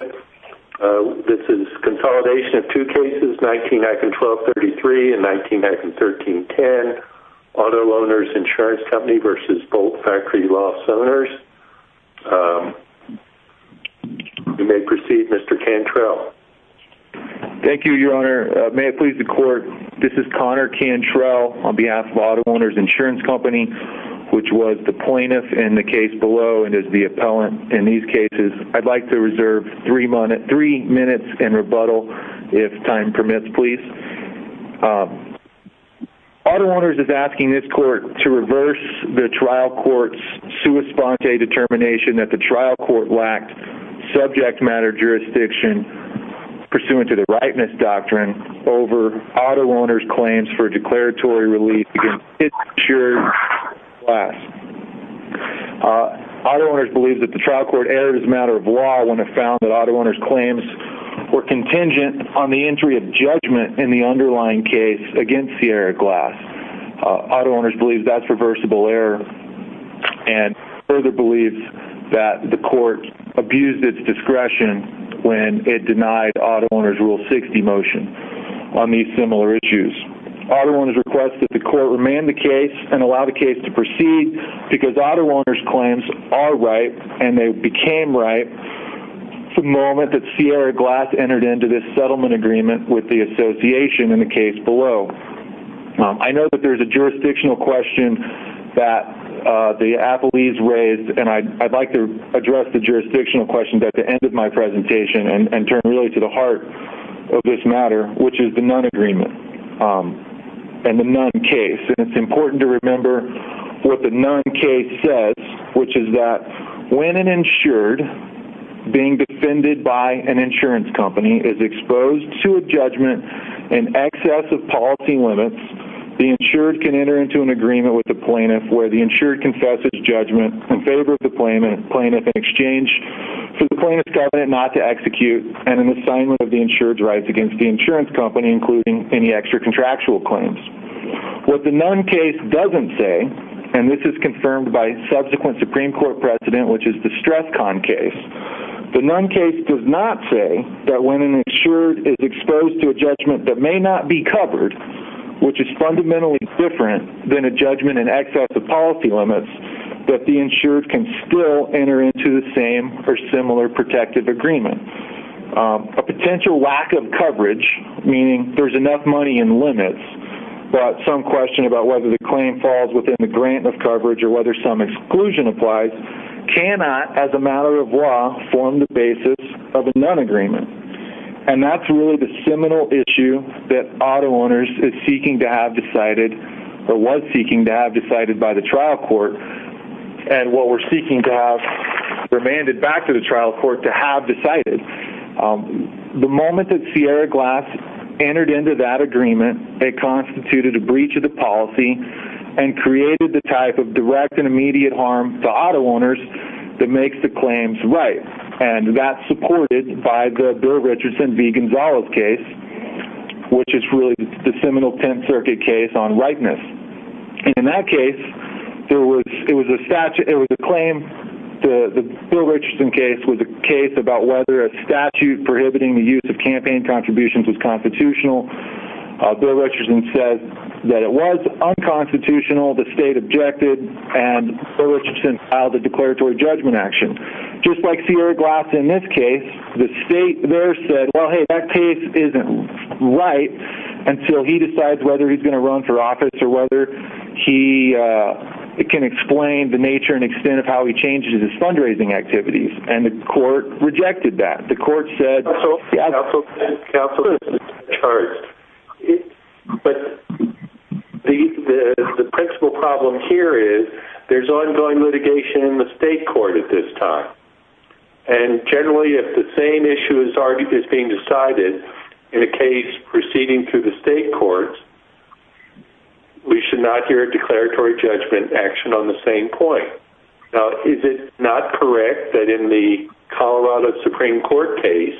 This is consolidation of two cases, 19-1233 and 19-1310, Auto-Owners Insurance Company v. Bolt Factory Lofts Owners. You may proceed, Mr. Cantrell. Thank you, Your Honor. May it please the Court, this is Connor Cantrell on behalf of Auto-Owners Insurance Company, which was the plaintiff in the case below and is the appellant in these cases. I'd like to reserve three minutes in rebuttal, if time permits, please. Auto-Owners is asking this Court to reverse the trial court's sua sponte determination that the trial court lacked subject matter jurisdiction pursuant to the Rightness Doctrine over Auto-Owners' claims for declaratory relief against its insured class. Auto-Owners believes that the trial court erred as a matter of law when it found that Auto-Owners' claims were contingent on the entry of judgment in the underlying case against Sierra Glass. Auto-Owners believes that's reversible error and further believes that the Court abused its discretion when it denied Auto-Owners' Rule 60 motion on these similar issues. Auto-Owners requests that the Court remand the case and allow the case to proceed because Auto-Owners' claims are right and they became right the moment that Sierra Glass entered into this settlement agreement with the association in the case below. I know that there's a jurisdictional question that the appellees raised and I'd like to address the jurisdictional question at the end of my presentation and turn really to the heart of this matter, which is the non-agreement. It's important to remember what the non-case says, which is that when an insured being defended by an insurance company is exposed to a judgment in excess of policy limits, the insured can enter into an agreement with the plaintiff where the insured confesses judgment in favor of the plaintiff in exchange for the plaintiff's covenant not to execute and an assignment of the insured's rights against the insurance company, including any extra contractual claims. What the non-case doesn't say, and this is confirmed by subsequent Supreme Court precedent, which is the StressCon case, the non-case does not say that when an insured is exposed to a judgment that may not be covered, which is fundamentally different than a judgment in excess of policy limits, that the insured can still enter into the same or similar protective agreement. A potential lack of coverage, meaning there's enough money in limits, but some question about whether the claim falls within the grant of coverage or whether some exclusion applies, cannot, as a matter of law, form the basis of a non-agreement. And that's really the seminal issue that auto owners is seeking to have decided, or was seeking to have decided by the trial court, and what we're seeking to have remanded back to the trial court to have decided. The moment that Sierra Glass entered into that agreement, it constituted a breach of the policy and created the type of direct and immediate harm to auto owners that makes the claims right. And that's supported by the Bill Richardson v. Gonzales case, which is really the seminal Tenth Circuit case on rightness. And in that case, it was a claim, the Bill Richardson case, was a case about whether a statute prohibiting the use of campaign contributions was constitutional. Bill Richardson said that it was unconstitutional, the state objected, and Bill Richardson filed a declaratory judgment action. Just like Sierra Glass in this case, the state there said, well, hey, that case isn't right until he decides whether he's going to run for office or whether he can explain the nature and extent of how he changes his fundraising activities. And the court rejected that. The court said... Counsel is charged. But the principal problem here is there's ongoing litigation in the state court at this time. And generally, if the same issue is being decided in a case proceeding through the state courts, we should not hear a declaratory judgment action on the same point. Now, is it not correct that in the Colorado Supreme Court case,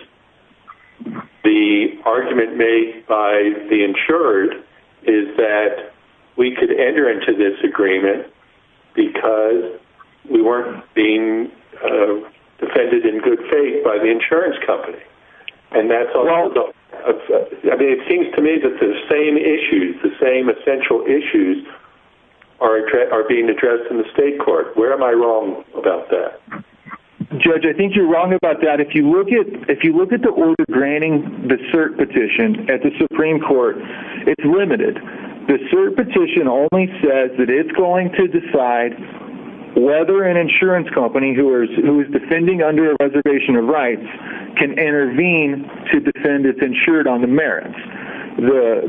the argument made by the insured is that we could enter into this agreement because we weren't being defended in good faith by the insurance company? And that's also... I mean, it seems to me that the same issues, the same essential issues, are being addressed in the state court. Where am I wrong about that? Judge, I think you're wrong about that. If you look at the order granting the cert petition at the Supreme Court, it's limited. The cert petition only says that it's going to decide whether an insurance company who is defending under a reservation of rights can intervene to defend its insured on the merits.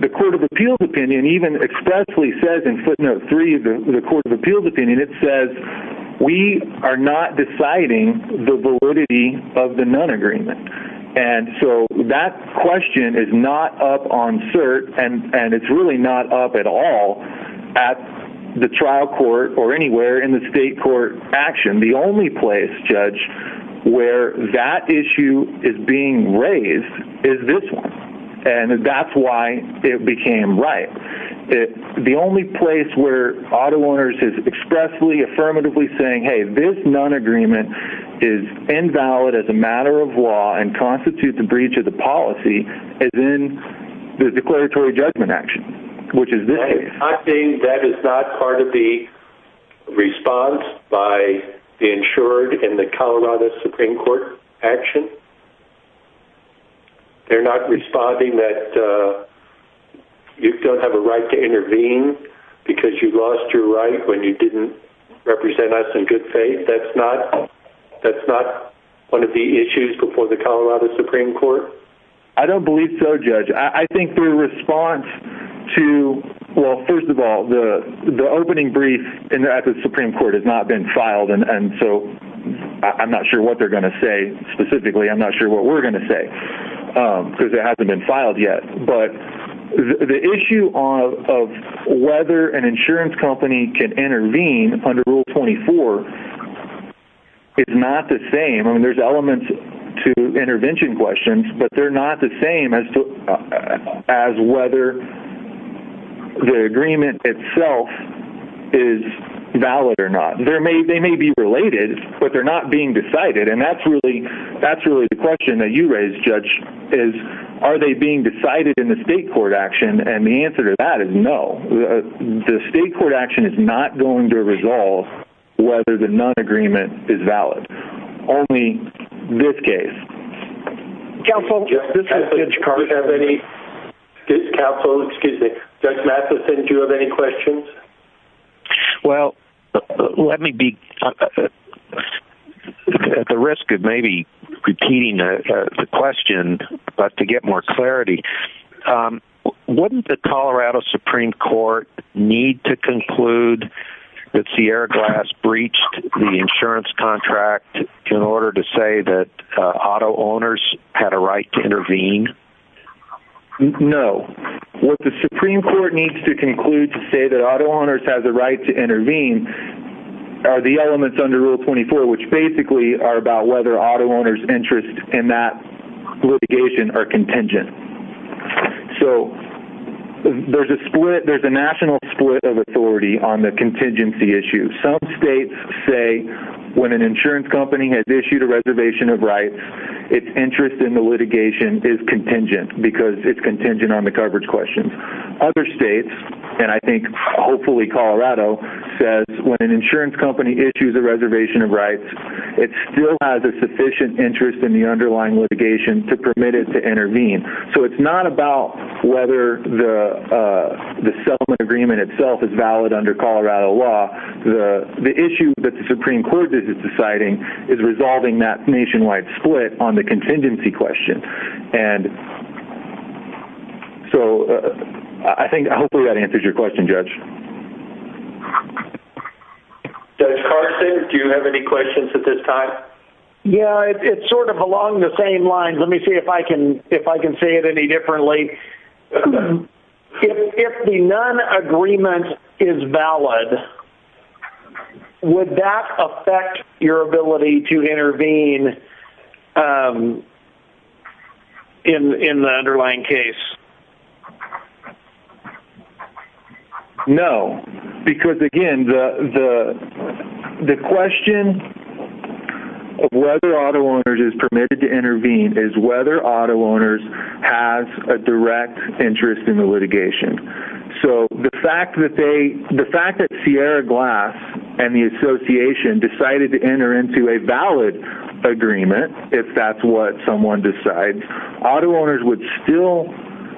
The Court of Appeals opinion even expressly says in footnote 3 of the Court of Appeals opinion, it says we are not deciding the validity of the non-agreement. And so that question is not up on cert, and it's really not up at all at the trial court or anywhere in the state court action. The only place, Judge, where that issue is being raised is this one. And that's why it became right. The only place where auto owners is expressly, affirmatively saying, hey, this non-agreement is invalid as a matter of law and constitutes a breach of the policy is in the declaratory judgment action, which is this case. I think that is not part of the response by the insured in the Colorado Supreme Court action. They're not responding that you don't have a right to intervene because you lost your right when you didn't represent us in good faith. That's not one of the issues before the Colorado Supreme Court. I don't believe so, Judge. I think their response to, well, first of all, the opening brief at the Supreme Court has not been filed. And so I'm not sure what they're going to say specifically. I'm not sure what we're going to say because it hasn't been filed yet. But the issue of whether an insurance company can intervene under Rule 24 is not the same. I mean, there's elements to intervention questions, but they're not the same as whether the agreement itself is valid or not. They may be related, but they're not being decided. And that's really the question that you raised, Judge, is are they being decided in the state court action? And the answer to that is no. The state court action is not going to resolve whether the non-agreement is valid. Only this case. Counsel? Counsel, excuse me. Judge Mathison, do you have any questions? Well, let me be at the risk of maybe repeating the question but to get more clarity. Wouldn't the Colorado Supreme Court need to conclude that Sierra Glass breached the insurance contract in order to say that auto owners had a right to intervene? No. What the Supreme Court needs to conclude to say that auto owners have the right to intervene are the elements under Rule 24, which basically are about whether auto owners' interests in that litigation are contingent. So, there's a split, there's a national split of authority on the contingency issue. Some states say when an insurance company has issued a reservation of rights, its interest in the litigation is contingent because it's contingent on the coverage questions. Other states, and I think hopefully Colorado, says when an insurance company issues a reservation of rights, it still has a sufficient interest in the underlying litigation to permit it to intervene. So, it's not about whether the settlement agreement itself is valid under Colorado law. The issue that the Supreme Court is deciding is resolving that nationwide split on the contingency question. And so, I think hopefully that answers your question, Judge. Judge Carson, do you have any questions at this time? Yeah, it's sort of along the same lines. Let me see if I can say it any differently. If the non-agreement is valid, would that affect your ability to intervene in the underlying case? No, because again, the question of whether auto owners is permitted to intervene is whether auto owners has a direct interest in the litigation. So, the fact that Sierra Glass and the association decided to enter into a valid agreement, if that's what someone decides, auto owners would still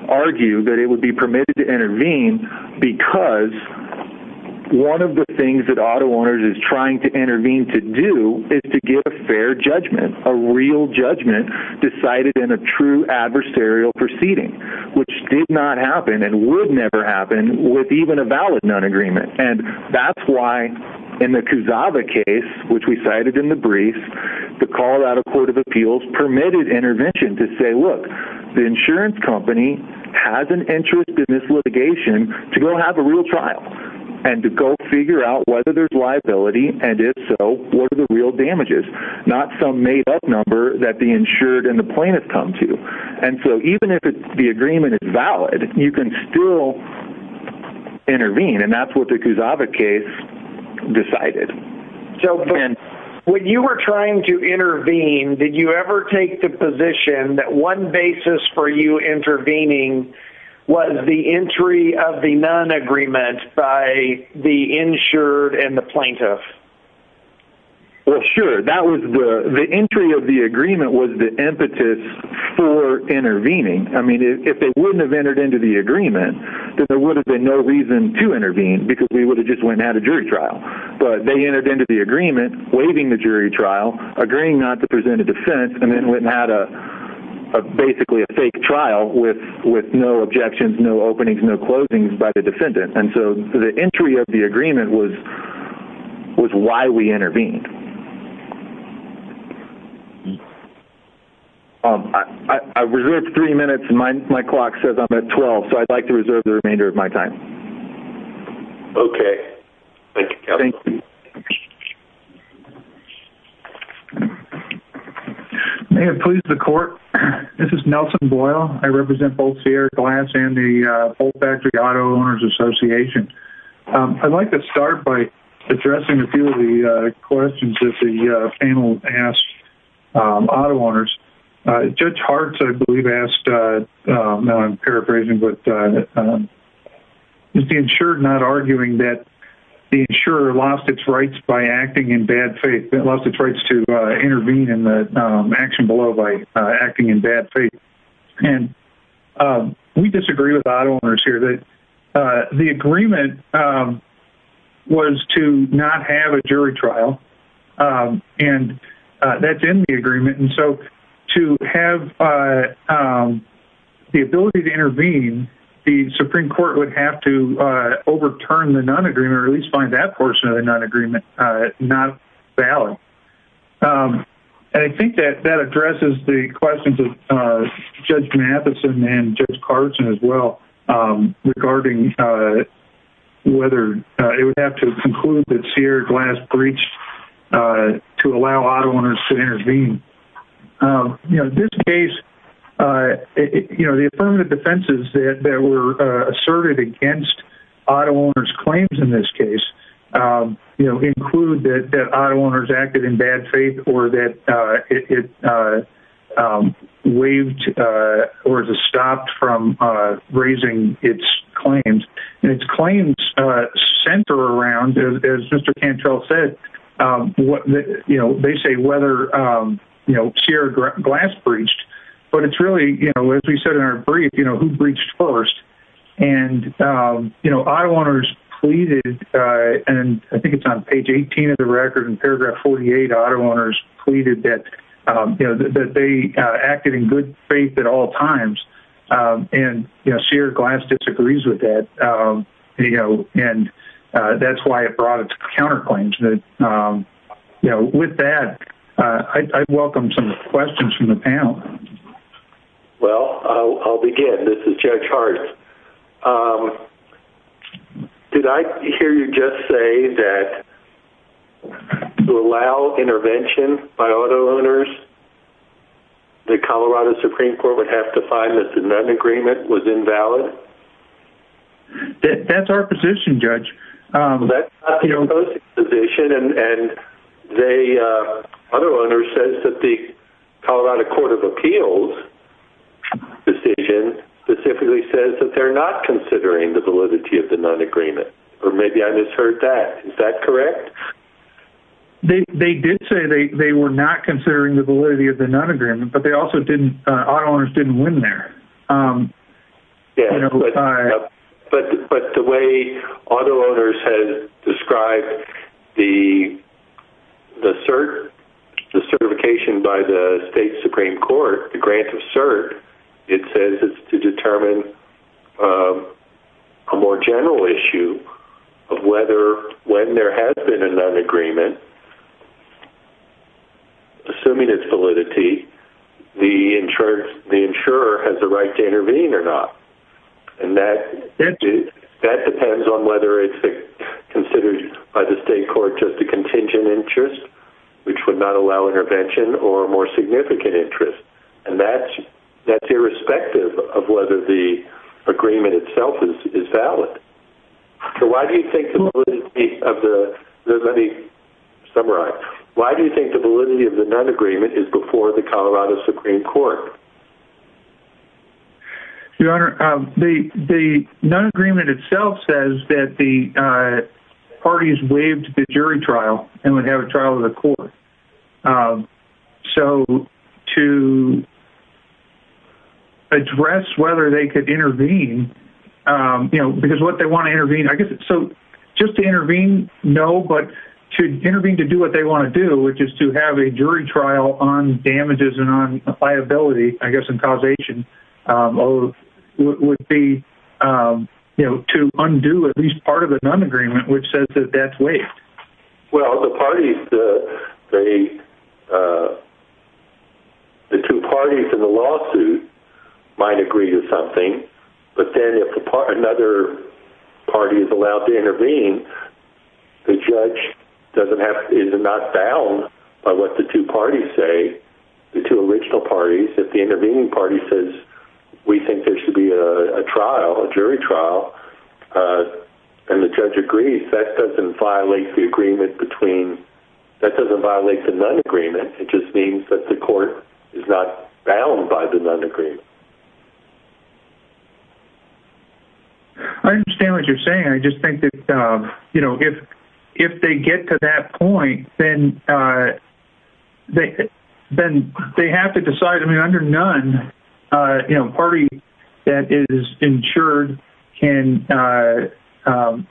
argue that it would be permitted to intervene because one of the things that auto owners is trying to intervene to do is to get a fair judgment, a real judgment decided in a true adversarial proceeding, which did not happen and would never happen with even a valid non-agreement. And that's why in the Kusava case, which we cited in the brief, the Colorado Court of Appeals permitted intervention to say, look, the insurance company has an interest in this litigation to go have a real trial and to go figure out whether there's liability, and if so, what are the real damages. Not some made up number that the insured and the plaintiff come to. And so, even if the agreement is valid, you can still intervene, and that's what the Kusava case decided. So, when you were trying to intervene, did you ever take the position that one basis for you intervening was the entry of the non-agreement by the insured and the plaintiff? Well, sure. The entry of the agreement was the impetus for intervening. I mean, if they wouldn't have entered into the agreement, then there would have been no reason to intervene because we would have just went and had a jury trial. But they entered into the agreement, waiving the jury trial, agreeing not to present a defense, and then went and had basically a fake trial with no objections, no openings, no closings by the defendant. And so, the entry of the agreement was why we intervened. I reserve three minutes, and my clock says I'm at 12, so I'd like to reserve the remainder of my time. Okay. Thank you, Kevin. Thank you. May it please the court, this is Nelson Boyle. I represent both Sierra Glass and the Bolt Factory Auto Owners Association. I'd like to start by addressing a few of the questions that the panel asked auto owners. Judge Hart, I believe, asked, now I'm paraphrasing, but is the insurer not arguing that the insurer lost its rights by acting in bad faith, lost its rights to intervene in the action below by acting in bad faith? And we disagree with auto owners here. The agreement was to not have a jury trial, and that's in the agreement. And so, to have the ability to intervene, the Supreme Court would have to overturn the non-agreement or at least find that portion of the non-agreement not valid. And I think that addresses the questions of Judge Matheson and Judge Carson as well, regarding whether it would have to conclude that Sierra Glass breached to allow auto owners to intervene. In this case, the affirmative defenses that were asserted against auto owners' claims in this case include that auto owners acted in bad faith or that it waived or stopped from raising its claims. And its claims center around, as Mr. Cantrell said, they say whether Sierra Glass breached, but it's really, as we said in our brief, who breached first. And auto owners pleaded, and I think it's on page 18 of the record in paragraph 48, auto owners pleaded that they acted in good faith at all times. And Sierra Glass disagrees with that, and that's why it brought its counterclaims. With that, I welcome some questions from the panel. Well, I'll begin. This is Judge Hart. Did I hear you just say that to allow intervention by auto owners, the Colorado Supreme Court would have to find that the non-agreement was invalid? That's our position, Judge. That's not the opposing position, and the auto owner says that the Colorado Court of Appeals decision specifically says that they're not considering the validity of the non-agreement. Or maybe I misheard that. Is that correct? They did say they were not considering the validity of the non-agreement, but auto owners didn't win there. But the way auto owners have described the certification by the state Supreme Court, the grant of cert, it says it's to determine a more general issue of whether when there has been a non-agreement, assuming its validity, the insurer has the right to intervene or not. And that depends on whether it's considered by the state court just a contingent interest, which would not allow intervention, or a more significant interest. And that's irrespective of whether the agreement itself is valid. So why do you think the validity of the—let me summarize. Why do you think the validity of the non-agreement is before the Colorado Supreme Court? Your Honor, the non-agreement itself says that the parties waived the jury trial and would have a trial of the court. So to address whether they could intervene, because what they want to intervene— So just to intervene, no, but to intervene to do what they want to do, which is to have a jury trial on damages and on liability, I guess in causation, would be to undo at least part of the non-agreement, which says that that's waived. Well, the parties—the two parties in the lawsuit might agree to something, but then if another party is allowed to intervene, the judge is not bound by what the two parties say. The two original parties, if the intervening party says, we think there should be a trial, a jury trial, and the judge agrees, that doesn't violate the agreement between—that doesn't violate the non-agreement. It just means that the court is not bound by the non-agreement. I understand what you're saying. I just think that if they get to that point, then they have to decide. I mean, under none, a party that is insured can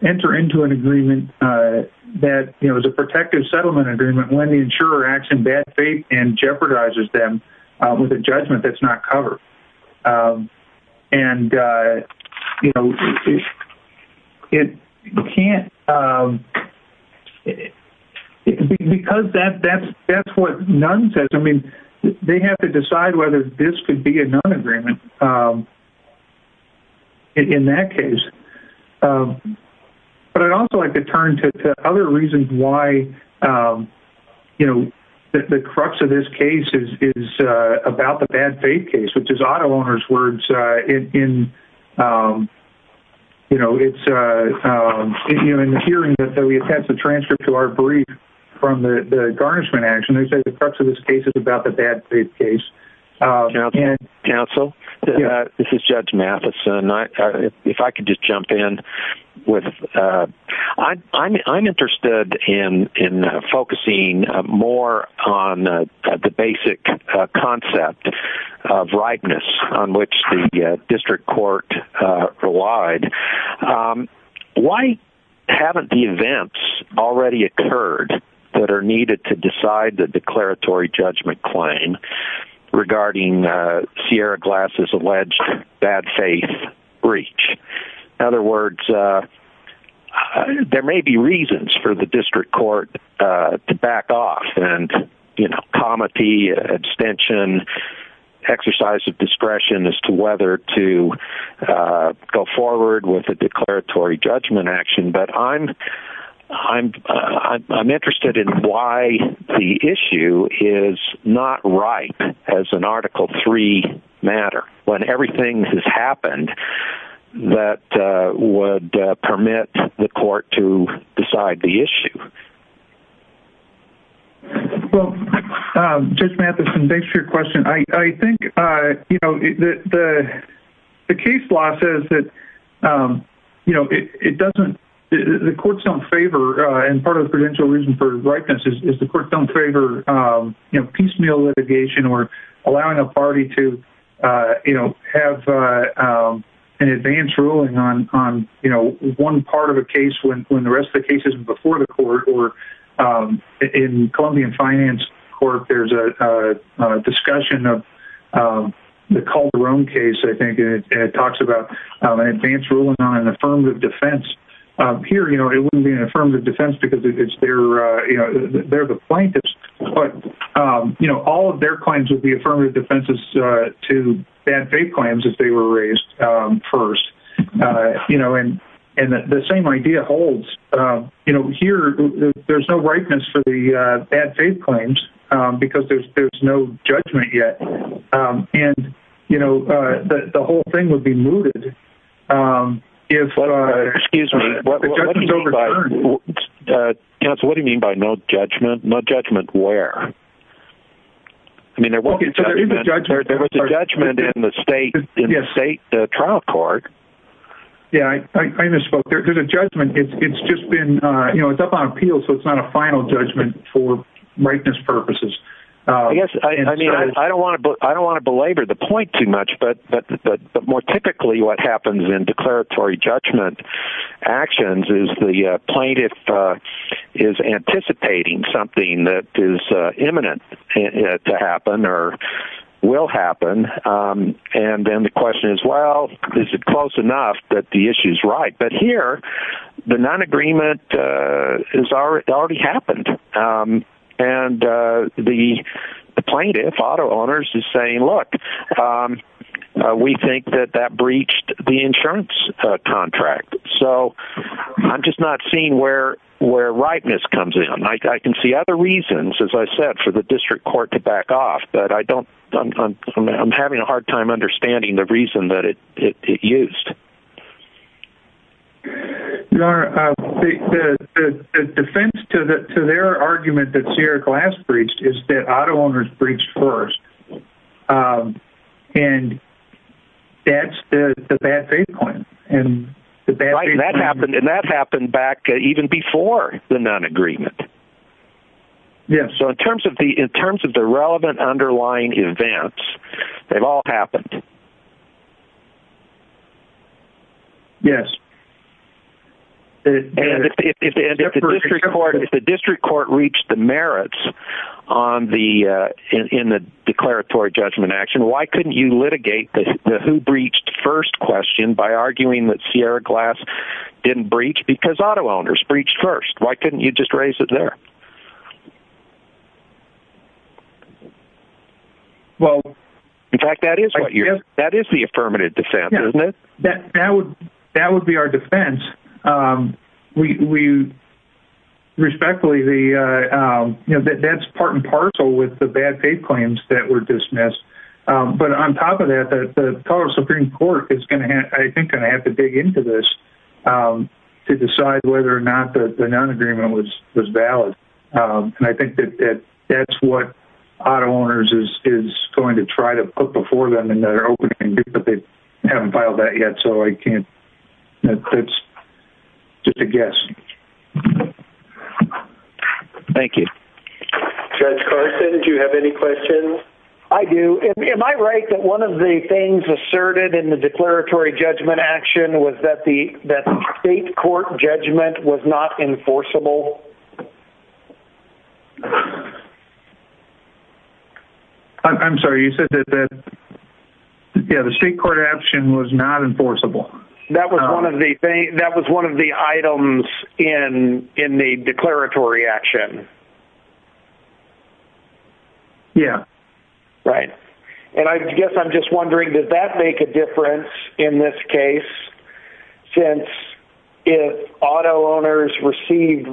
enter into an agreement that is a protective settlement agreement when the insurer acts in bad faith and jeopardizes them with a judgment that's not covered. And, you know, it can't—because that's what none says. I mean, they have to decide whether this could be a non-agreement in that case. But I'd also like to turn to other reasons why, you know, the crux of this case is about the bad faith case, which is auto owners' words in, you know, in the hearing that we attached the transcript to our brief from the garnishment action. They said the crux of this case is about the bad faith case. Counsel? This is Judge Mathison. If I could just jump in with— I'm interested in focusing more on the basic concept of rightness on which the district court relied. Why haven't the events already occurred that are needed to decide the declaratory judgment claim regarding Sierra Glass's alleged bad faith breach? In other words, there may be reasons for the district court to back off and, you know, comity, extension, exercise of discretion as to whether to go forward with a declaratory judgment action. But I'm interested in why the issue is not right as an Article III matter. When everything has happened, that would permit the court to decide the issue. Well, Judge Mathison, thanks for your question. I think, you know, the case law says that, you know, it doesn't— the courts don't favor—and part of the prudential reason for rightness is the courts don't favor, you know, piecemeal litigation or allowing a party to, you know, have an advance ruling on, you know, one part of a case when the rest of the case isn't before the court. Or in Columbian Finance Court, there's a discussion of the Calderon case, I think, and it talks about an advance ruling on an affirmative defense. Here, you know, it wouldn't be an affirmative defense because it's their— you know, all of their claims would be affirmative defenses to bad faith claims if they were raised first. You know, and the same idea holds. You know, here, there's no rightness for the bad faith claims because there's no judgment yet. And, you know, the whole thing would be mooted if— Excuse me, what do you mean by— Okay, so there is a judgment. There was a judgment in the state trial court. Yeah, I misspoke. There's a judgment. It's just been—you know, it's up on appeal, so it's not a final judgment for rightness purposes. I guess, I mean, I don't want to belabor the point too much, but more typically what happens in declaratory judgment actions is the plaintiff is anticipating something that is imminent to happen or will happen. And then the question is, well, is it close enough that the issue's right? But here, the non-agreement has already happened. And the plaintiff, auto owners, is saying, look, we think that that breached the insurance contract. So I'm just not seeing where rightness comes in. I can see other reasons, as I said, for the district court to back off, but I'm having a hard time understanding the reason that it used. Your Honor, the defense to their argument that Sierra Glass breached is that auto owners breached first. And that's the bad faith claim. And that happened back even before the non-agreement. Yes. So in terms of the relevant underlying events, they've all happened. Yes. And if the district court reached the merits in the declaratory judgment action, why couldn't you litigate the who breached first question by arguing that Sierra Glass didn't breach because auto owners breached first? Why couldn't you just raise it there? Well... In fact, that is the affirmative defense, isn't it? That would be our defense. We respectfully... That's part and parcel with the bad faith claims that were dismissed. But on top of that, the Colorado Supreme Court is going to have to dig into this to decide whether or not the non-agreement was valid. And I think that that's what auto owners is going to try to put before them in their opening, but they haven't filed that yet. So I can't... That's just a guess. Thank you. Judge Carson, do you have any questions? I do. Am I right that one of the things asserted in the declaratory judgment action was that the state court judgment was not enforceable? I'm sorry. You said that... Yeah, the state court action was not enforceable. That was one of the items in the declaratory action. Yeah. Right. And I guess I'm just wondering, does that make a difference in this case? Since if auto owners received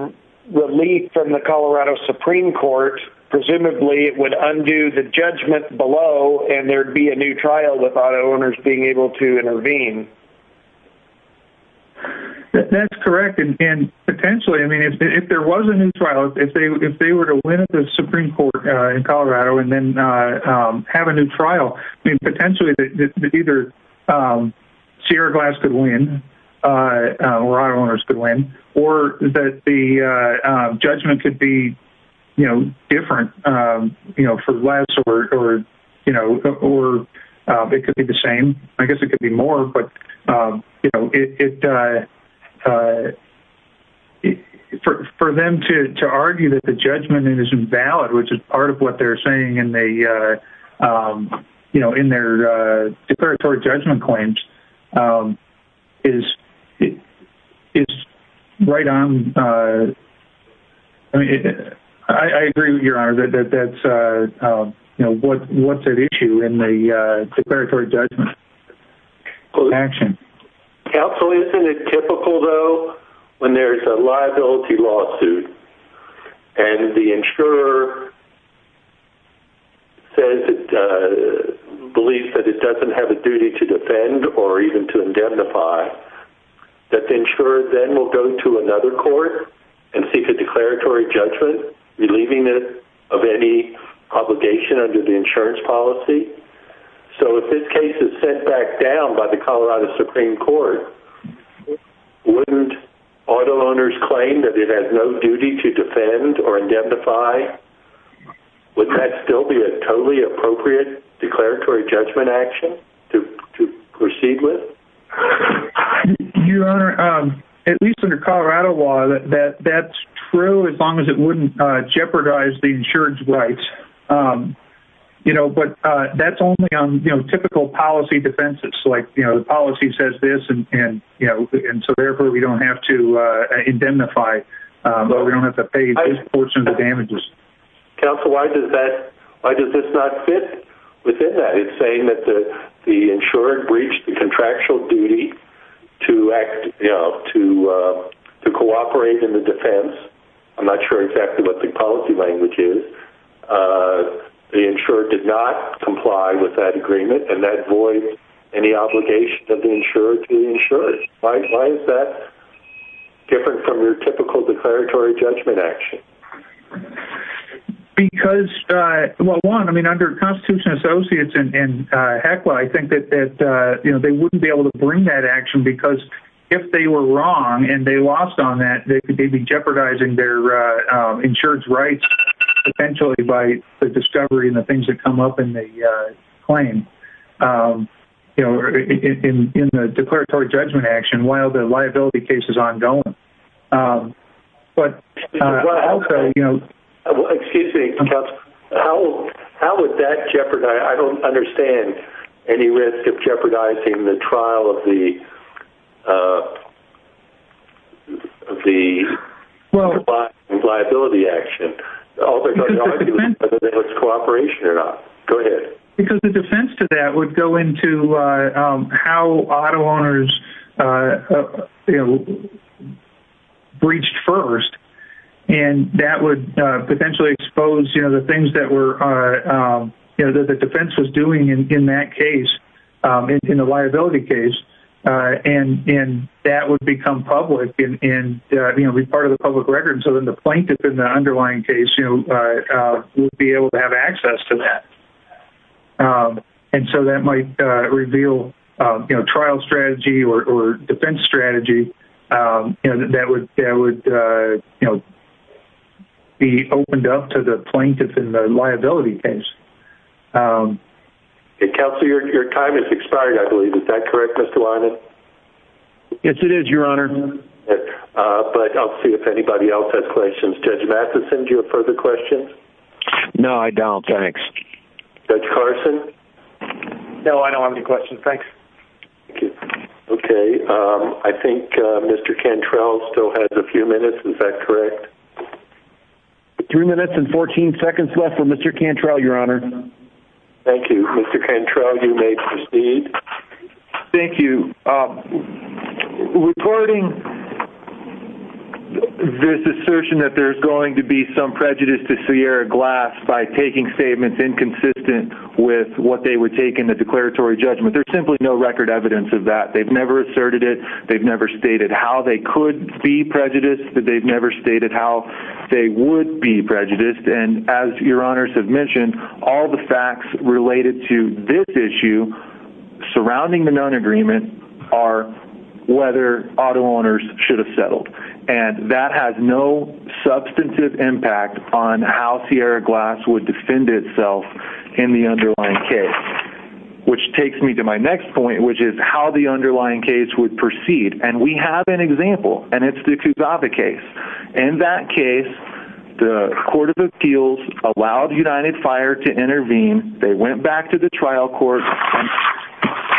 relief from the Colorado Supreme Court, presumably it would undo the judgment below and there'd be a new trial with auto owners being able to intervene. That's correct. And potentially, I mean, if there was a new trial, if they were to win at the Supreme Court in Colorado and then have a new trial, potentially either Sierra Glass could win or auto owners could win, or that the judgment could be different for less or it could be the same. I guess it could be more. For them to argue that the judgment is invalid, which is part of what they're saying in their declaratory judgment claims, is right on... I agree with you, Your Honor. That's what's at issue in the declaratory judgment action. Counsel, isn't it typical, though, when there's a liability lawsuit and the insurer believes that it doesn't have a duty to defend or even to indemnify, that the insurer then will go to another court and seek a declaratory judgment, relieving it of any obligation under the insurance policy? So if this case is sent back down by the Colorado Supreme Court, wouldn't auto owners claim that it has no duty to defend or indemnify? Wouldn't that still be a totally appropriate declaratory judgment action to proceed with? Your Honor, at least under Colorado law, that's true as long as it wouldn't jeopardize the insurance rights. But that's only on typical policy defenses. The policy says this, so therefore we don't have to indemnify, but we don't have to pay this portion of the damages. Counsel, why does this not fit within that? It's saying that the insurer breached the contractual duty to cooperate in the defense. I'm not sure exactly what the policy language is. The insurer did not comply with that agreement, and that voids any obligation of the insurer to the insurance. Why is that different from your typical declaratory judgment action? Because, well one, under Constitution Associates and HECLA, I think that they wouldn't be able to bring that action, because if they were wrong and they lost on that, they'd be jeopardizing their insurance rights, potentially by the discovery and the things that come up in the claim. You know, in the declaratory judgment action, while the liability case is ongoing. But also, you know... Excuse me, counsel. How would that jeopardize, I don't understand, any risk of jeopardizing the trial of the liability action? Because the defense... Whether it was cooperation or not. Go ahead. Because the defense to that would go into how auto owners breached first. And that would potentially expose the things that the defense was doing in that case, in the liability case. And that would become public and be part of the public record. So then the plaintiff in the underlying case would be able to have access to that. And so that might reveal trial strategy or defense strategy that would be opened up to the plaintiff in the liability case. Counsel, your time has expired, I believe. Is that correct, Mr. Wyman? Yes, it is, Your Honor. But I'll see if anybody else has questions. Judge Vassa, did you have further questions? No, I don't. Thanks. Judge Carson? No, I don't have any questions. Thanks. Okay. I think Mr. Cantrell still has a few minutes. Is that correct? Three minutes and 14 seconds left for Mr. Cantrell, Your Honor. Thank you. Mr. Cantrell, you may proceed. Thank you. Recording this assertion that there's going to be some prejudice to Sierra Glass by taking statements inconsistent with what they would take in the declaratory judgment, there's simply no record evidence of that. They've never asserted it. They've never stated how they could be prejudiced. They've never stated how they would be prejudiced. And as Your Honors have mentioned, all the facts related to this issue surrounding the non-agreement are whether auto owners should have settled. And that has no substantive impact on how Sierra Glass would defend itself in the underlying case. Which takes me to my next point, which is how the underlying case would proceed. And we have an example, and it's the Kuzava case. In that case, the Court of Appeals allowed United Fire to intervene. They went back to the trial court.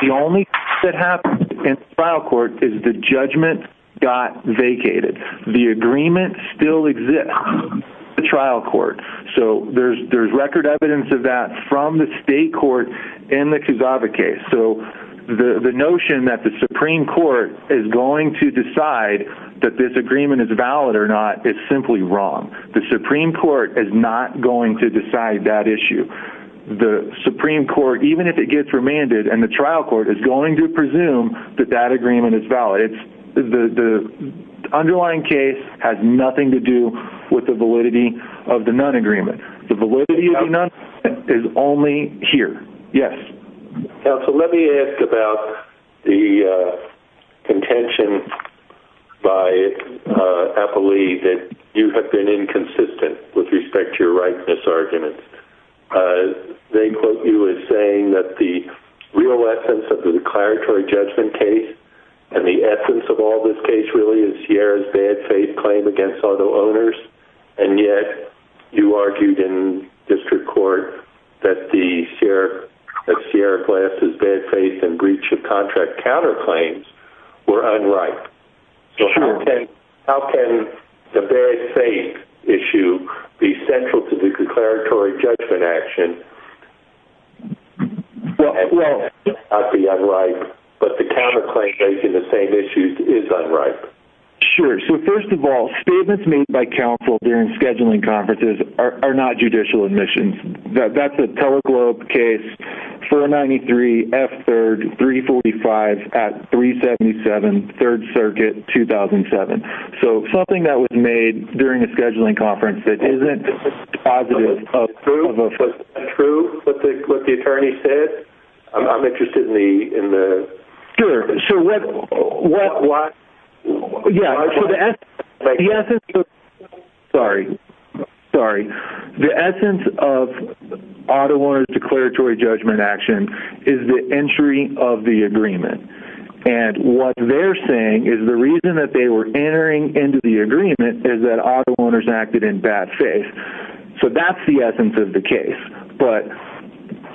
The only thing that happened in the trial court is the judgment got vacated. The agreement still exists in the trial court. So there's record evidence of that from the state court in the Kuzava case. So the notion that the Supreme Court is going to decide that this agreement is valid or not is simply wrong. The Supreme Court is not going to decide that issue. The Supreme Court, even if it gets remanded, and the trial court, is going to presume that that agreement is valid. The underlying case has nothing to do with the validity of the non-agreement. The validity of the non-agreement is only here. Yes. Counsel, let me ask about the contention by Eppley that you have been inconsistent with respect to your rightness argument. They quote you as saying that the real essence of the declaratory judgment case and the essence of all this case really is Sierra's bad faith claim against auto owners, and yet you argued in district court that Sierra Glass' bad faith and breach of contract counterclaims were unright. Sure. How can the bad faith issue be central to the declaratory judgment action and not be unright, but the counterclaim making the same issues is unright? Sure. So first of all, statements made by counsel during scheduling conferences are not judicial admissions. That's a TeleGlobe case, 493 F3rd 345 at 377 3rd Circuit 2007. So something that was made during a scheduling conference that isn't positive. Was it true what the attorney said? I'm interested in the... Sure. What... Yeah. The essence... Sorry. The essence of auto owners declaratory judgment action is the entry of the agreement. And what they're saying is the reason that they were entering into the agreement is that auto owners acted in bad faith. So that's the essence of the case. But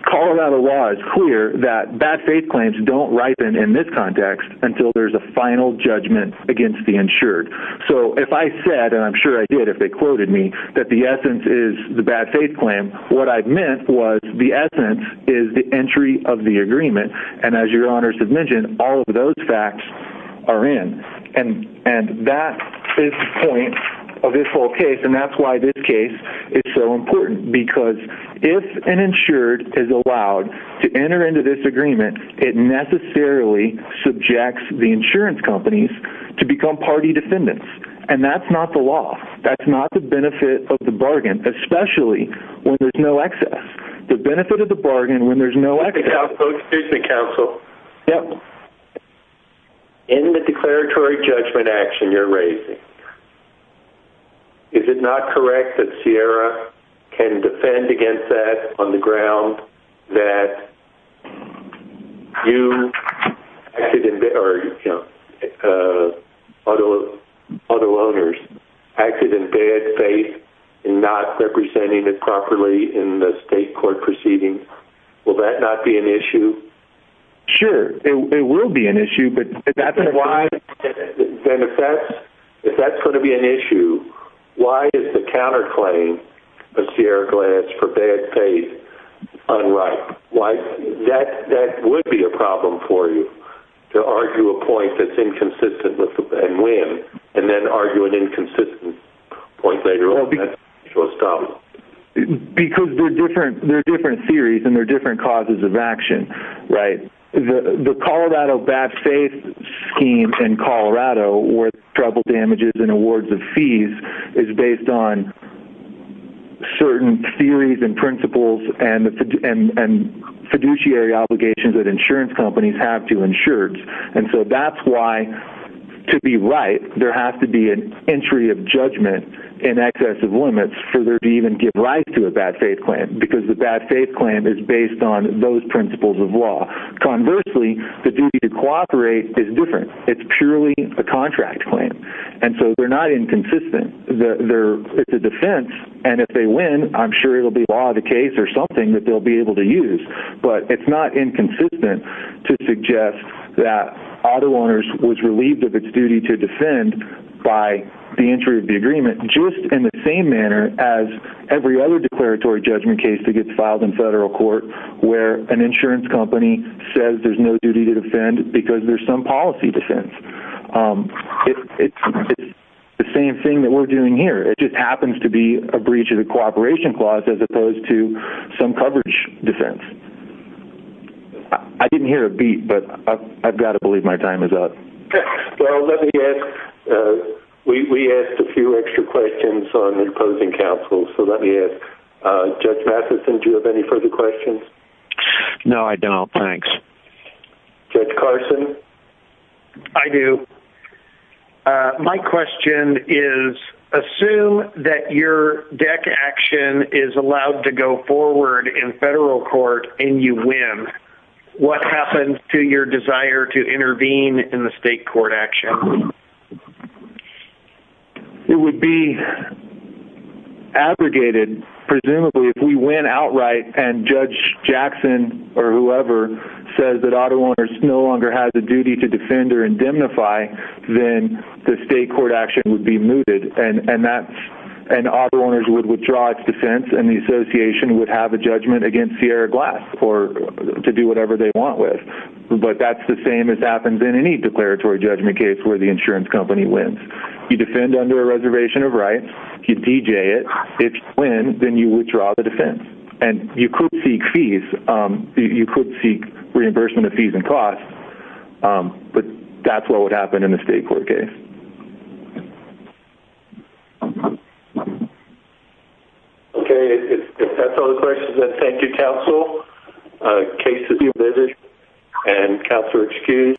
Colorado law is clear that bad faith claims don't ripen in this context until there's a final judgment against the insured. So if I said, and I'm sure I did if they quoted me, that the essence is the bad faith claim, what I meant was the essence is the entry of the agreement. And as your honors have mentioned, all of those facts are in. And that is the point of this whole case. And that's why this case is so important. Because if an insured is allowed to enter into this agreement, it necessarily subjects the insurance companies to become party defendants. And that's not the law. That's not the benefit of the bargain, especially when there's no excess. The benefit of the bargain when there's no excess... Excuse me, counsel. Yeah. In the declaratory judgment action you're raising, is it not correct that Sierra can defend against that on the ground that you or other owners acted in bad faith and not representing it properly in the state court proceeding? Will that not be an issue? Sure. It will be an issue, but that's why... Then if that's going to be an issue, why is the counterclaim of Sierra Glads for bad faith unripe? That would be a problem for you, to argue a point that's inconsistent and win and then argue an inconsistent point later on. Because they're different theories and they're different causes of action. Right. The Colorado bad faith scheme in Colorado where trouble damages and awards of fees is based on certain theories and principles and fiduciary obligations that insurance companies have to insureds. That's why, to be right, there has to be an entry of judgment in excess of limits for there to even give rise to a bad faith claim because the bad faith claim is based on those principles of law. Conversely, the duty to cooperate is different. It's purely a contract claim. They're not inconsistent. It's a defense and if they win, I'm sure it'll be a law of the case or something that they'll be able to use. But it's not inconsistent to suggest that Auto Owners was relieved of its duty to defend by the entry of the agreement just in the same manner as every other declaratory judgment case that gets filed in federal court where an insurance company says there's no duty to defend because there's some policy defense. It's the same thing that we're doing here. It just happens to be a breach of the cooperation clause as opposed to some coverage defense. I didn't hear a beat, but I've got to believe my time is up. Well, let me ask, we asked a few extra questions on opposing counsel, so let me ask Judge Matheson, do you have any further questions? No, I don't. Thanks. Judge Carson? I do. My question is, assume that your DEC action is allowed to go forward in federal court and you win, what happens to your desire to intervene in the state court action? It would be abrogated, presumably, if we win outright and Judge Jackson or whoever says that Auto Owners no longer has a duty to defend or indemnify, then the state court action would be mooted and Auto Owners would withdraw its defense and the association would have a judgment against Sierra Glass to do whatever they want with. But that's the same as happens in any declaratory judgment case where the insurance company wins. You defend under a reservation of rights, you DJ it, if you win, then you withdraw the defense. And you could seek fees, you could seek reimbursement of fees and costs, but that's what would happen in a state court case. Okay, if that's all the questions, then thank you, counsel. Case to be revisited. And counsel excused.